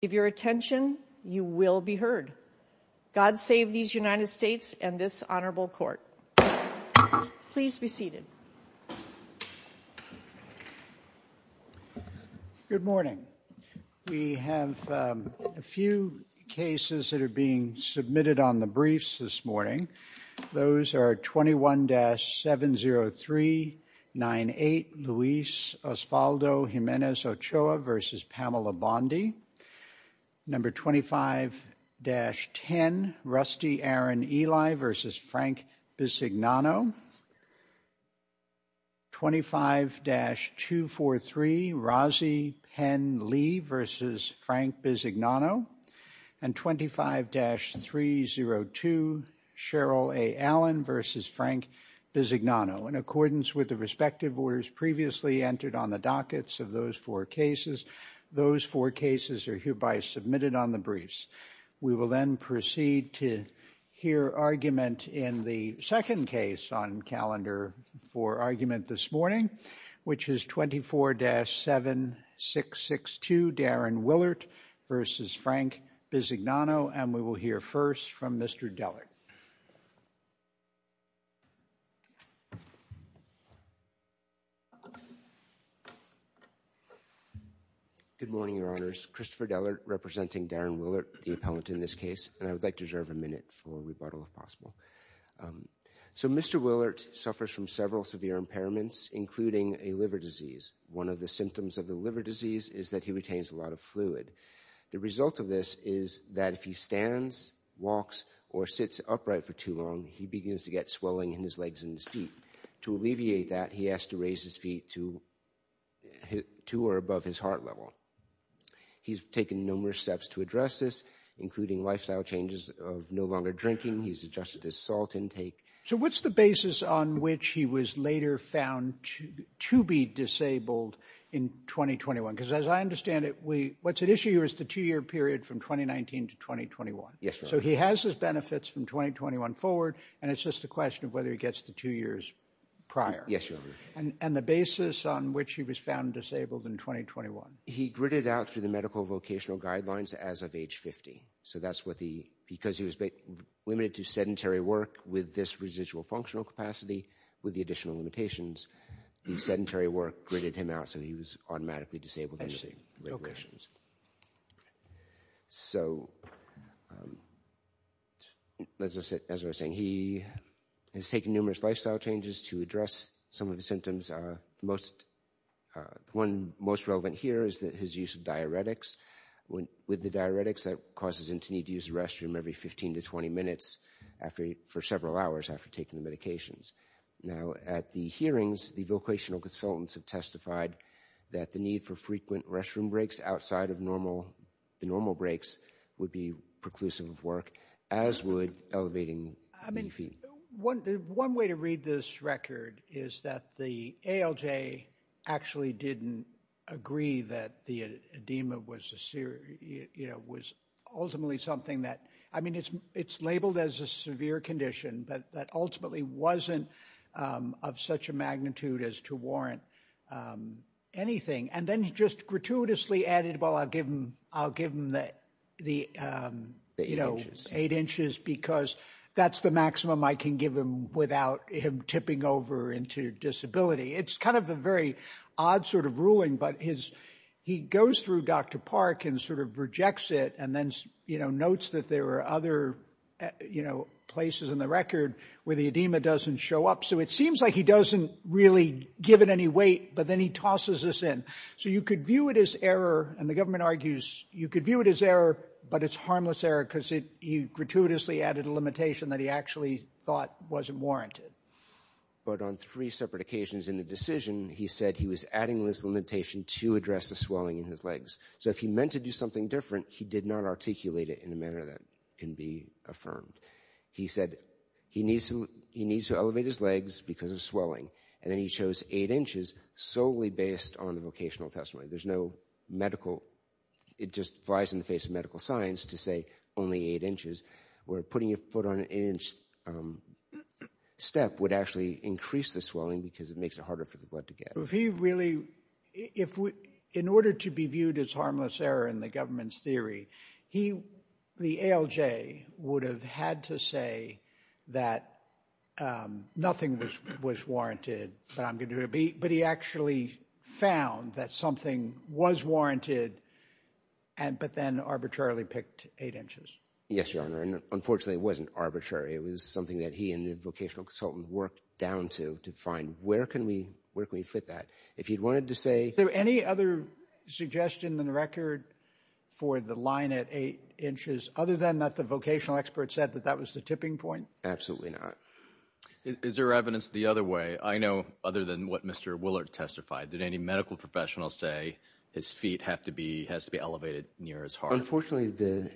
If your attention, you will be heard. God save these United States and this Honorable Court. Please be seated. Good morning. We have a few cases that are being submitted on the briefs this morning. Those are 21-70398, Luis Osvaldo Jimenez Ochoa v. Pamela Bondi. Number 25-10, Rusty Aaron Eli v. Frank Bisignano, 25-243, Rozzy Penn Lee v. Frank Bisignano, and 25-302, Cheryl A. Allen v. Frank Bisignano. In accordance with the respective orders previously entered on the dockets of those four cases, those four cases are hereby submitted on the briefs. We will then proceed to hear argument in the second case on calendar for argument this morning, which is 24-7662, Darren Willert v. Frank Bisignano, and we will hear first from Mr. Dellert. Good morning, Your Honors. Christopher Dellert representing Darren Willert, the appellant in this case, and I would like to reserve a minute for rebuttal if possible. So Mr. Willert suffers from several severe impairments, including a liver disease. One of the symptoms of the liver disease is that he retains a lot of fluid. The result of this is that if he stands, walks, or sits upright for too long, he begins to get swelling in his legs and his feet. To alleviate that, he has to raise his feet to or above his heart level. He's taken numerous steps to address this, including lifestyle changes of no longer drinking. He's adjusted his salt intake. So what's the basis on which he was later found to be disabled in 2021? Because as I understand it, what's at issue here is the two-year period from 2019 to 2021. So he has his benefits from 2021 forward, and it's just a question of whether he gets the two years prior. And the basis on which he was found disabled in 2021? He gritted out through the medical vocational guidelines as of age 50. So that's what the... Because he was limited to sedentary work with this residual functional capacity with the additional limitations, the sedentary work gritted him out, so he was automatically disabled in the regulations. So as I was saying, he has taken numerous lifestyle changes to address some of the symptoms. The one most relevant here is his use of diuretics. With the diuretics, that causes him to need to use the restroom every 15 to 20 minutes for several hours after taking the medications. Now at the hearings, the vocational consultants have testified that the need for frequent restroom breaks outside of the normal breaks would be preclusive of work, as would elevating the knee feet. One way to read this record is that the ALJ actually didn't agree that the edema was ultimately something that... I mean, it's labeled as a severe condition, but that ultimately wasn't of such a magnitude as to warrant anything. And then he just gratuitously added, well, I'll give him the eight inches because that's the maximum I can give him without him tipping over into disability. It's kind of a very odd sort of ruling, but he goes through Dr. Park and sort of rejects it and then notes that there are other places in the record where the edema doesn't show up. So it seems like he doesn't really give it any weight, but then he tosses this in. So you could view it as error, and the government argues you could view it as error, but it's harmless error because he gratuitously added a limitation that he actually thought wasn't warranted. But on three separate occasions in the decision, he said he was adding this limitation to address the swelling in his legs. So if he meant to do something different, he did not articulate it in a manner that can be affirmed. He said he needs to elevate his legs because of swelling, and then he chose eight inches solely based on the vocational testimony. There's no medical, it just flies in the face of medical science to say only eight inches, where putting a foot on an inch step would actually increase the swelling because it makes it harder for the blood to get. In order to be viewed as harmless error in the government's theory, the ALJ would have had to say that nothing was warranted, but I'm going to do it. But he actually found that something was warranted, but then arbitrarily picked eight inches. Yes, Your Honor, and unfortunately it wasn't arbitrary. It was something that he and the vocational consultant worked down to, to find where can we fit that. If you wanted to say— Is there any other suggestion in the record for the line at eight inches, other than that the vocational expert said that that was the tipping point? Absolutely not. Is there evidence the other way? I know other than what Mr. Willard testified, did any medical professional say his feet have to be, has to be elevated near his heart? Unfortunately,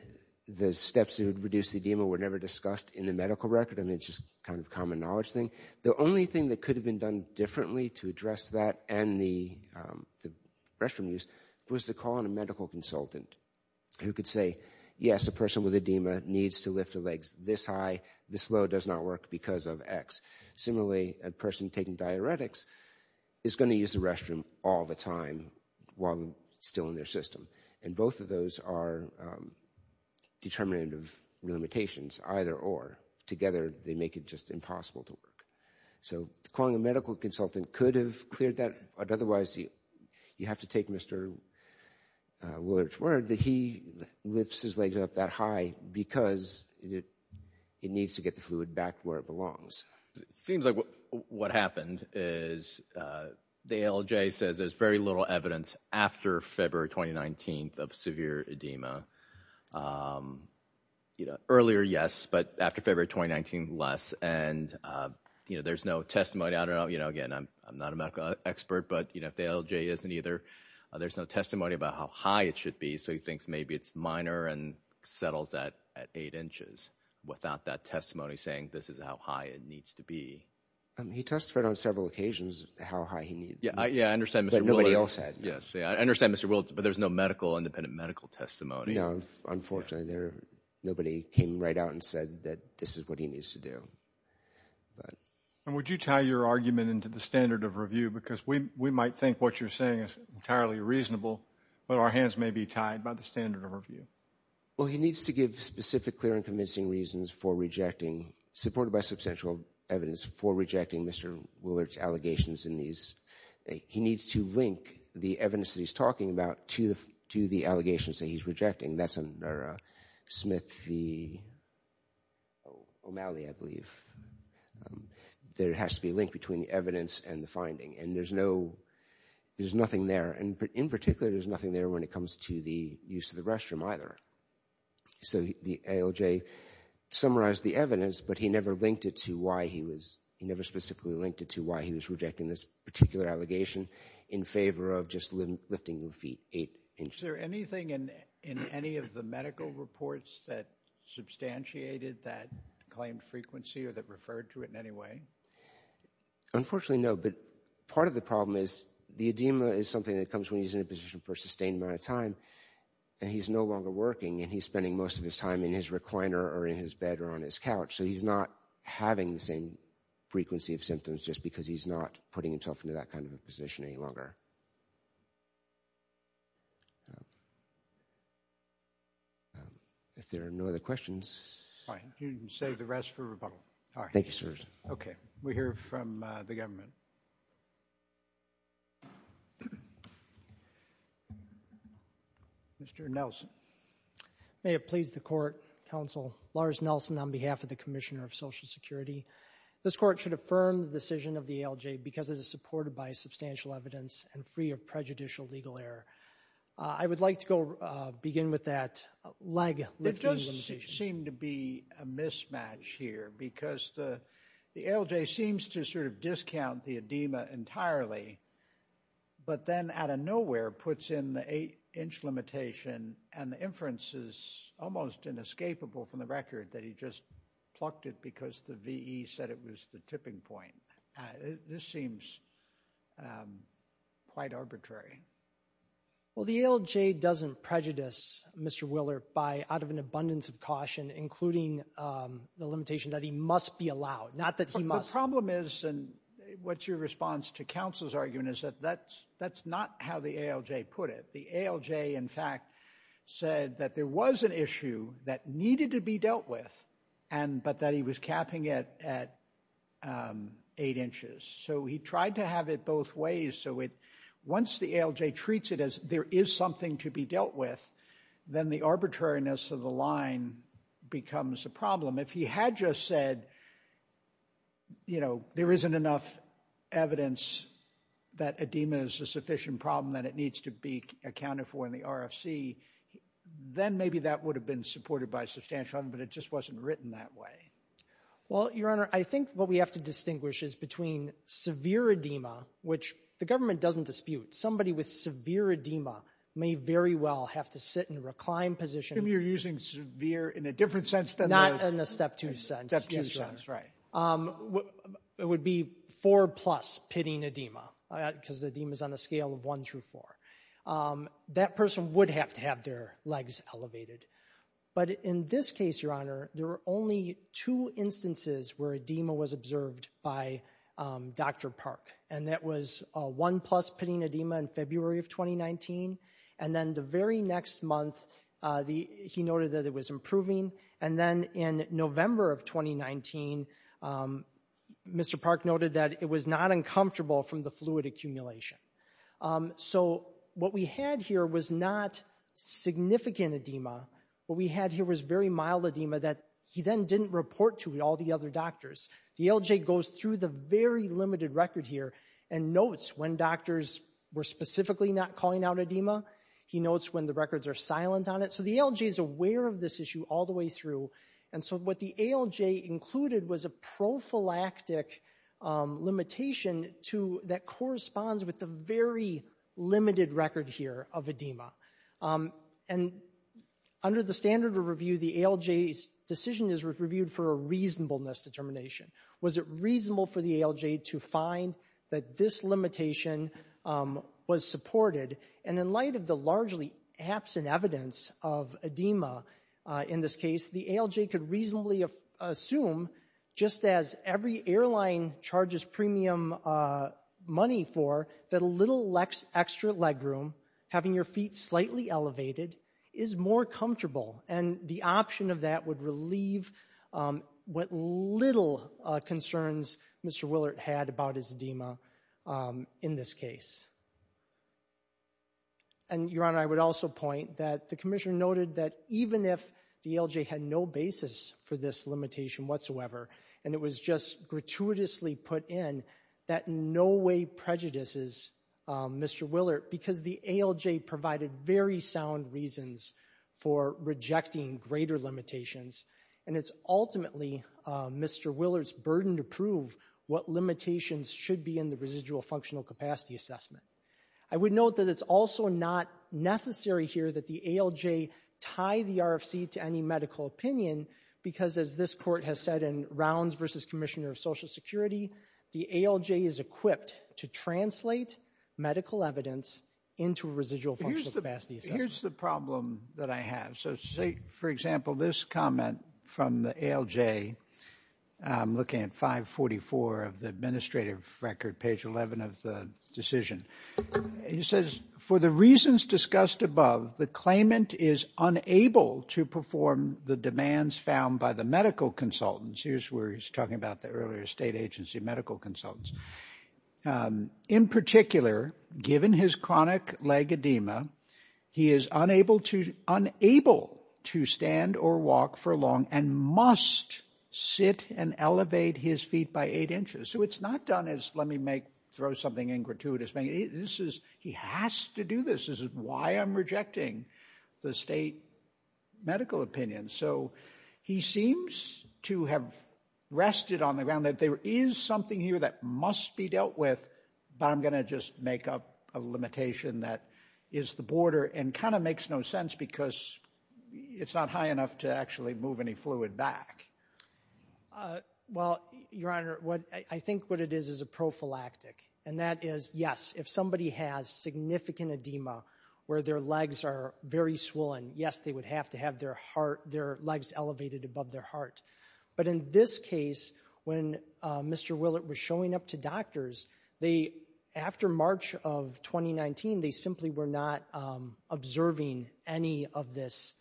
the steps that would reduce the edema were never discussed in the medical record. I mean, it's just kind of a common knowledge thing. The only thing that could have been done differently to address that and the restroom use was to call in a medical consultant who could say, yes, a person with edema needs to lift their legs this high, this low does not work because of X. Similarly, a person taking diuretics is going to use the restroom all the time while still in their system. And both of those are determinative limitations, either or. Together they make it just impossible to work. So calling a medical consultant could have cleared that, but otherwise you have to take Mr. Willard's word that he lifts his legs up that high because it needs to get the fluid back where it belongs. It seems like what happened is the ALJ says there's very little evidence after February 2019 of severe edema. You know, earlier, yes, but after February 2019, less. And you know, there's no testimony, I don't know, you know, again, I'm not a medical expert, but you know, if the ALJ isn't either, there's no testimony about how high it should be. So he thinks maybe it's minor and settles that at eight inches without that testimony saying this is how high it needs to be. He testified on several occasions how high he needs to be. Yeah, I understand. But nobody else had. Yes. I understand, Mr. Willard, but there's no medical, independent medical testimony. No, unfortunately, nobody came right out and said that this is what he needs to do. Would you tie your argument into the standard of review? Because we might think what you're saying is entirely reasonable, but our hands may be tied by the standard of review. Well, he needs to give specific, clear and convincing reasons for rejecting, supported by substantial evidence for rejecting Mr. Willard's allegations in these. He needs to link the evidence that he's talking about to the allegations that he's rejecting. That's under Smith v. O'Malley, I believe. There has to be a link between the evidence and the finding, and there's no, there's nothing there. And in particular, there's nothing there when it comes to the use of the restroom either. So the ALJ summarized the evidence, but he never linked it to why he was, he never specifically linked it to why he was rejecting this particular allegation in favor of just lifting the feet eight inches. Is there anything in any of the medical reports that substantiated that claimed frequency or that referred to it in any way? Unfortunately, no, but part of the problem is the edema is something that comes when he's in a position for a sustained amount of time and he's no longer working and he's spending most of his time in his recliner or in his bed or on his couch. So he's not having the same frequency of symptoms just because he's not putting himself into that kind of a position any longer. If there are no other questions. Fine. You can save the rest for rebuttal. All right. Thank you, sirs. Okay. We hear from the government. Mr. Nelson. May it please the Court, Counsel Lars Nelson on behalf of the Commissioner of Social Security. This Court should affirm the decision of the ALJ because it is supported by substantial evidence and free of prejudicial legal error. I would like to go begin with that leg lifting limitation. There doesn't seem to be a mismatch here because the ALJ seems to sort of discount the edema entirely, but then out of nowhere puts in the eight-inch limitation and the inference is almost inescapable from the record that he just plucked it because the VE said it was the tipping point. This seems quite arbitrary. Well, the ALJ doesn't prejudice Mr. Willer out of an abundance of caution, including the limitation that he must be allowed. Not that he must. The problem is, and what's your response to counsel's argument, is that that's not how the ALJ put it. The ALJ, in fact, said that there was an issue that needed to be dealt with, but that he was capping it at eight inches. So he tried to have it both ways, so once the ALJ treats it as there is something to be dealt with, then the arbitrariness of the line becomes a problem. If he had just said, you know, there isn't enough evidence that edema is a sufficient problem that it needs to be accounted for in the RFC, then maybe that would have been supported by substantial evidence, but it just wasn't written that way. Well, Your Honor, I think what we have to distinguish is between severe edema, which the government doesn't dispute. Somebody with severe edema may very well have to sit in a reclined position. Maybe you're using severe in a different sense than the... Not in the step two sense. Step two sense, right. Yes, Your Honor. It would be four plus pitting edema, because the edema's on a scale of one through four. That person would have to have their legs elevated, but in this case, Your Honor, there were only two instances where edema was observed by Dr. Park, and that was one plus pitting edema in February of 2019, and then the very next month, he noted that it was improving, and then in November of 2019, Mr. Park noted that it was not uncomfortable from the fluid accumulation. So what we had here was not significant edema. What we had here was very mild edema that he then didn't report to all the other doctors. The ALJ goes through the very limited record here and notes when doctors were specifically not calling out edema. He notes when the records are silent on it. So the ALJ is aware of this issue all the way through, and so what the ALJ included was a prophylactic limitation that corresponds with the very limited record here of edema. And under the standard of review, the ALJ's decision is reviewed for a reasonableness determination. Was it reasonable for the ALJ to find that this limitation was supported? And in light of the largely absent evidence of edema in this case, the ALJ could reasonably assume, just as every airline charges premium money for, that a little extra legroom, having your feet slightly elevated, is more comfortable. And the option of that would relieve what little concerns Mr. Willert had about his edema in this case. And Your Honor, I would also point that the Commissioner noted that even if the ALJ had no basis for this limitation whatsoever, and it was just gratuitously put in, that in no way prejudices Mr. Willert, because the ALJ provided very sound reasons for rejecting greater limitations. And it's ultimately Mr. Willert's burden to prove what limitations should be in the residual functional capacity assessment. I would note that it's also not necessary here that the ALJ tie the RFC to any medical opinion, because as this Court has said in Rounds v. Commissioner of Social Security, the ALJ is equipped to translate medical evidence into a residual functional capacity assessment. Here's the problem that I have. So say, for example, this comment from the ALJ, looking at 544 of the administrative record, page 11 of the decision, he says, for the reasons discussed above, the claimant is unable to perform the demands found by the medical consultants. Here's where he's talking about the earlier state agency medical consultants. In particular, given his chronic leg edema, he is unable to stand or walk for long and must sit and elevate his feet by eight inches. So it's not done as, let me throw something in gratuitous. He has to do this. This is why I'm rejecting the state medical opinion. So he seems to have rested on the ground that there is something here that must be dealt with, but I'm going to just make up a limitation that is the border and kind of makes no sense because it's not high enough to actually move any fluid back. Well, Your Honor, I think what it is is a prophylactic. And that is, yes, if somebody has significant edema where their legs are very swollen, yes, they would have to have their heart, their legs elevated above their heart. But in this case, when Mr. Willett was showing up to doctors, after March of 2019, they simply were not observing any of this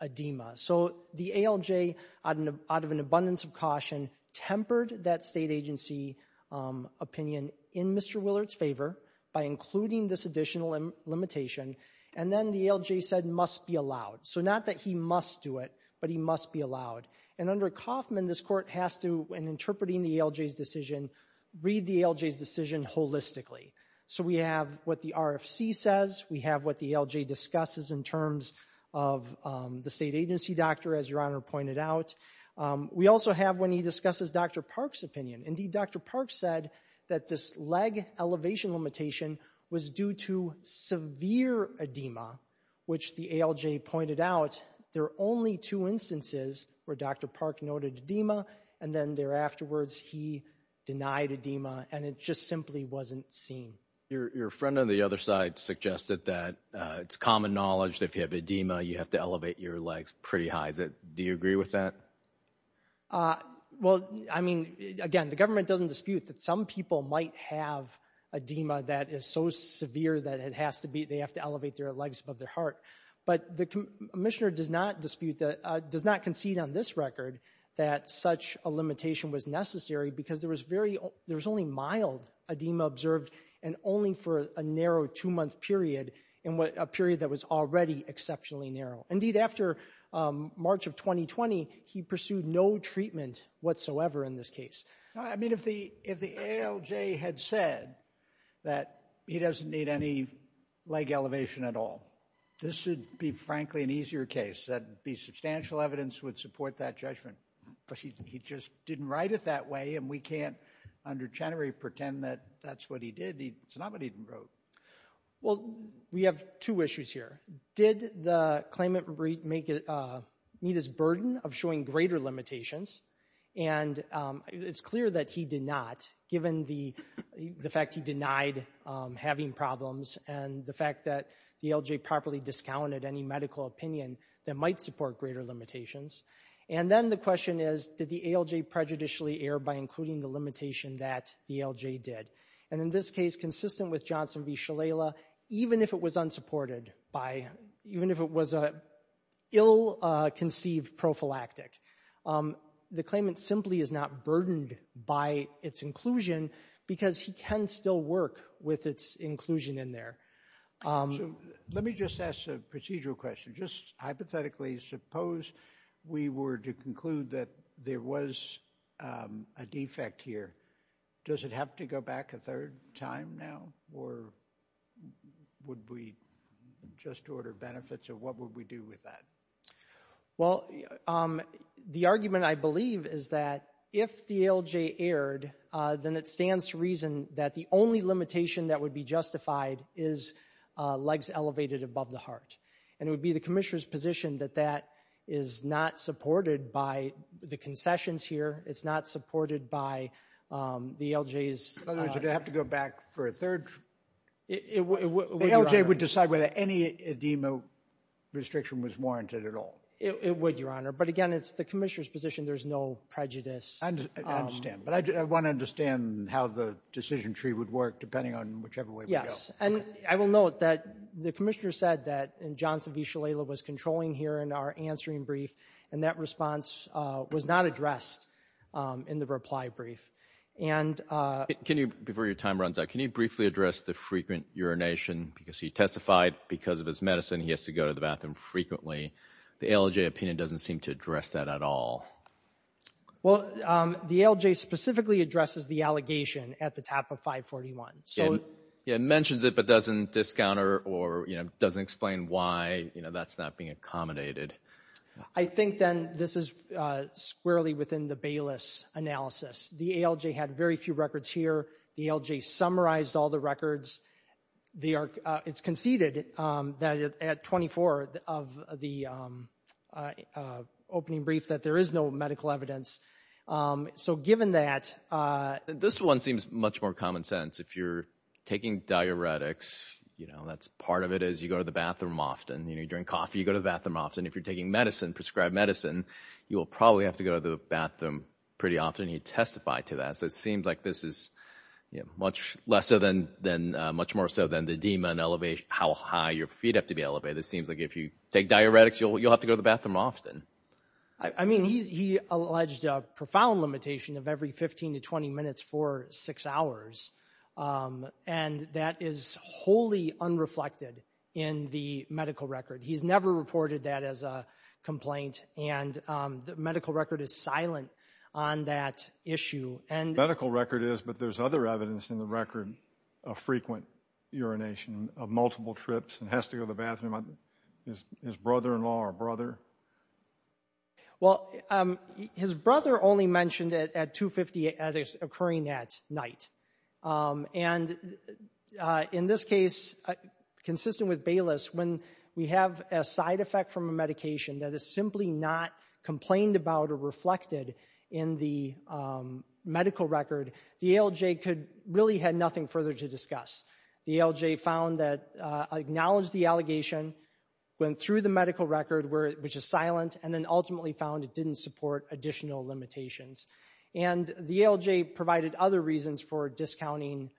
edema. So the ALJ, out of an abundance of caution, tempered that state agency opinion in Mr. Willett's favor by including this additional limitation. And then the ALJ said, must be allowed. So not that he must do it, but he must be allowed. And under Kaufman, this court has to, in interpreting the ALJ's decision, read the ALJ's decision holistically. So we have what the RFC says. We have what the ALJ discusses in terms of the state agency doctor, as Your Honor pointed out. We also have, when he discusses Dr. Park's opinion, indeed, Dr. Park said that this leg elevation limitation was due to severe edema, which the ALJ pointed out. There are only two instances where Dr. Park noted edema, and then thereafterwards, he denied edema, and it just simply wasn't seen. Your friend on the other side suggested that it's common knowledge that if you have edema, you have to elevate your legs pretty high. Do you agree with that? Well, I mean, again, the government doesn't dispute that some people might have edema that is so severe that it has to be, they have to elevate their legs above their heart. But the commissioner does not dispute, does not concede on this record that such a limitation was necessary, because there was very, there was only mild edema observed, and only for a narrow two-month period, and a period that was already exceptionally narrow. Indeed, after March of 2020, he pursued no treatment whatsoever in this case. I mean, if the ALJ had said that he doesn't need any leg elevation at all, this would be, frankly, an easier case. That'd be substantial evidence would support that judgment. He just didn't write it that way, and we can't, under Chenery, pretend that that's what he did. It's not what he wrote. Well, we have two issues here. Did the claimant meet his burden of showing greater limitations? And it's clear that he did not, given the fact he denied having problems, and the fact that the ALJ properly discounted any medical opinion that might support greater limitations. And then the question is, did the ALJ prejudicially err by including the limitation that the ALJ did? And in this case, consistent with Johnson v. Shalala, even if it was unsupported, even if it was an ill-conceived prophylactic, the claimant simply is not burdened by its inclusion, because he can still work with its inclusion in there. Let me just ask a procedural question. Just hypothetically, suppose we were to conclude that there was a defect here. Does it have to go back a third time now, or would we just order benefits, or what would we do with that? Well, the argument, I believe, is that if the ALJ erred, then it stands to reason that the only limitation that would be justified is legs elevated above the heart. And it would be the commissioner's position that that is not supported by the concessions here. It's not supported by the ALJ's – In other words, it would have to go back for a third – It would, Your Honor. The ALJ would decide whether any edema restriction was warranted at all. It would, Your Honor. But again, it's the commissioner's position. There's no prejudice. I understand. But I want to understand how the decision tree would work, depending on whichever way we go. Yes. And I will note that the commissioner said that Johnson v. Shalala was controlling here in our answering brief, and that response was not addressed in the reply brief. And – Can you, before your time runs out, can you briefly address the frequent urination? Because he testified because of his medicine, he has to go to the bathroom frequently. The ALJ opinion doesn't seem to address that at all. Well, the ALJ specifically addresses the allegation at the top of 541. So – Yeah, it mentions it, but doesn't discounter or, you know, doesn't explain why, you know, that's not being accommodated. I think, then, this is squarely within the Bayless analysis. The ALJ had very few records here. The ALJ summarized all the records. It's conceded that at 24 of the opening brief that there is no medical evidence. So given that – This one seems much more common sense. If you're taking diuretics, you know, that's – part of it is you go to the bathroom often, you know, you drink coffee, you go to the bathroom often. If you're taking medicine, prescribed medicine, you will probably have to go to the bathroom pretty often. He testified to that. So it seems like this is, you know, much lesser than – much more so than the DEMA and elevation – how high your feet have to be elevated. It seems like if you take diuretics, you'll have to go to the bathroom often. I mean, he alleged a profound limitation of every 15 to 20 minutes for six hours. And that is wholly unreflected in the medical record. He's never reported that as a complaint. And the medical record is silent on that issue. Medical record is, but there's other evidence in the record of frequent urination, of multiple trips and has to go to the bathroom. His brother-in-law or brother? Well, his brother only mentioned it at 2.58 as it's occurring that night. And in this case, consistent with Bayless, when we have a side effect from a medication that is simply not complained about or reflected in the medical record, the ALJ could – really had nothing further to discuss. The ALJ found that – acknowledged the allegation, went through the medical record, which is silent, and then ultimately found it didn't support additional limitations. And the ALJ provided other reasons for discounting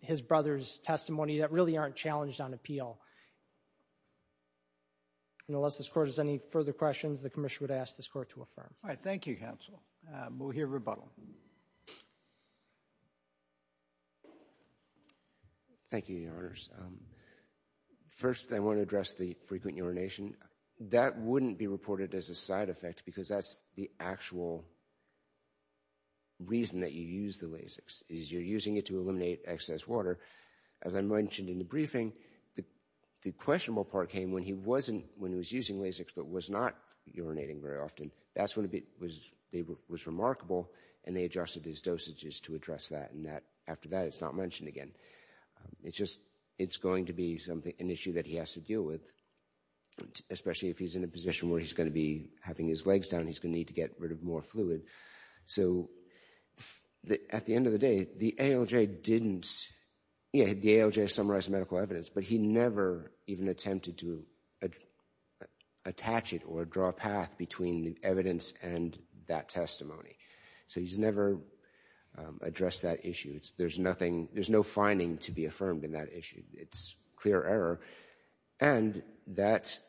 his brother's testimony that really aren't challenged on appeal. And unless this Court has any further questions, the Commissioner would ask this Court to affirm. All right. Thank you, counsel. We'll hear rebuttal. Thank you, Your Honors. First I want to address the frequent urination. That wouldn't be reported as a side effect because that's the actual reason that you use the Lasix, is you're using it to eliminate excess water. As I mentioned in the briefing, the questionable part came when he wasn't – when he was using Lasix but was not urinating very often. That's when it was remarkable and they adjusted his dosages to address that and that – after that it's not mentioned again. It's just – it's going to be an issue that he has to deal with, especially if he's in a position where he's going to be having his legs down, he's going to need to get rid of more fluid. So at the end of the day, the ALJ didn't – yeah, the ALJ summarized the medical evidence, but he never even attempted to attach it or draw a path between the evidence and that testimony. So he's never addressed that issue. There's nothing – there's no finding to be affirmed in that issue. It's clear error. And that's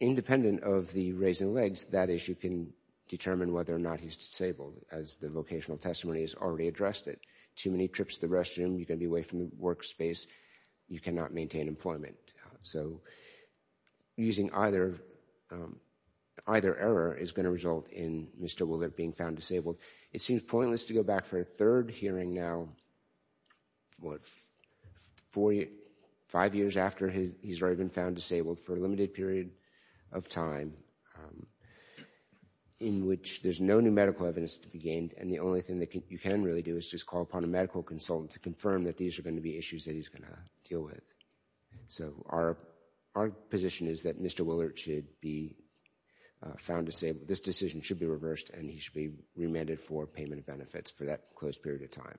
independent of the raising legs. That issue can determine whether or not he's disabled as the vocational testimony has already addressed it. Too many trips to the restroom, you're going to be away from the workspace, you cannot maintain employment. So using either error is going to result in Mr. Willard being found disabled. It seems pointless to go back for a third hearing now, what, four – five years after he's already been found disabled for a limited period of time in which there's no new medical evidence to be gained and the only thing that you can really do is just call upon a medical consultant to confirm that these are going to be issues that he's going to deal with. So our position is that Mr. Willard should be found disabled. This decision should be reversed and he should be remanded for payment of benefits for that close period of time.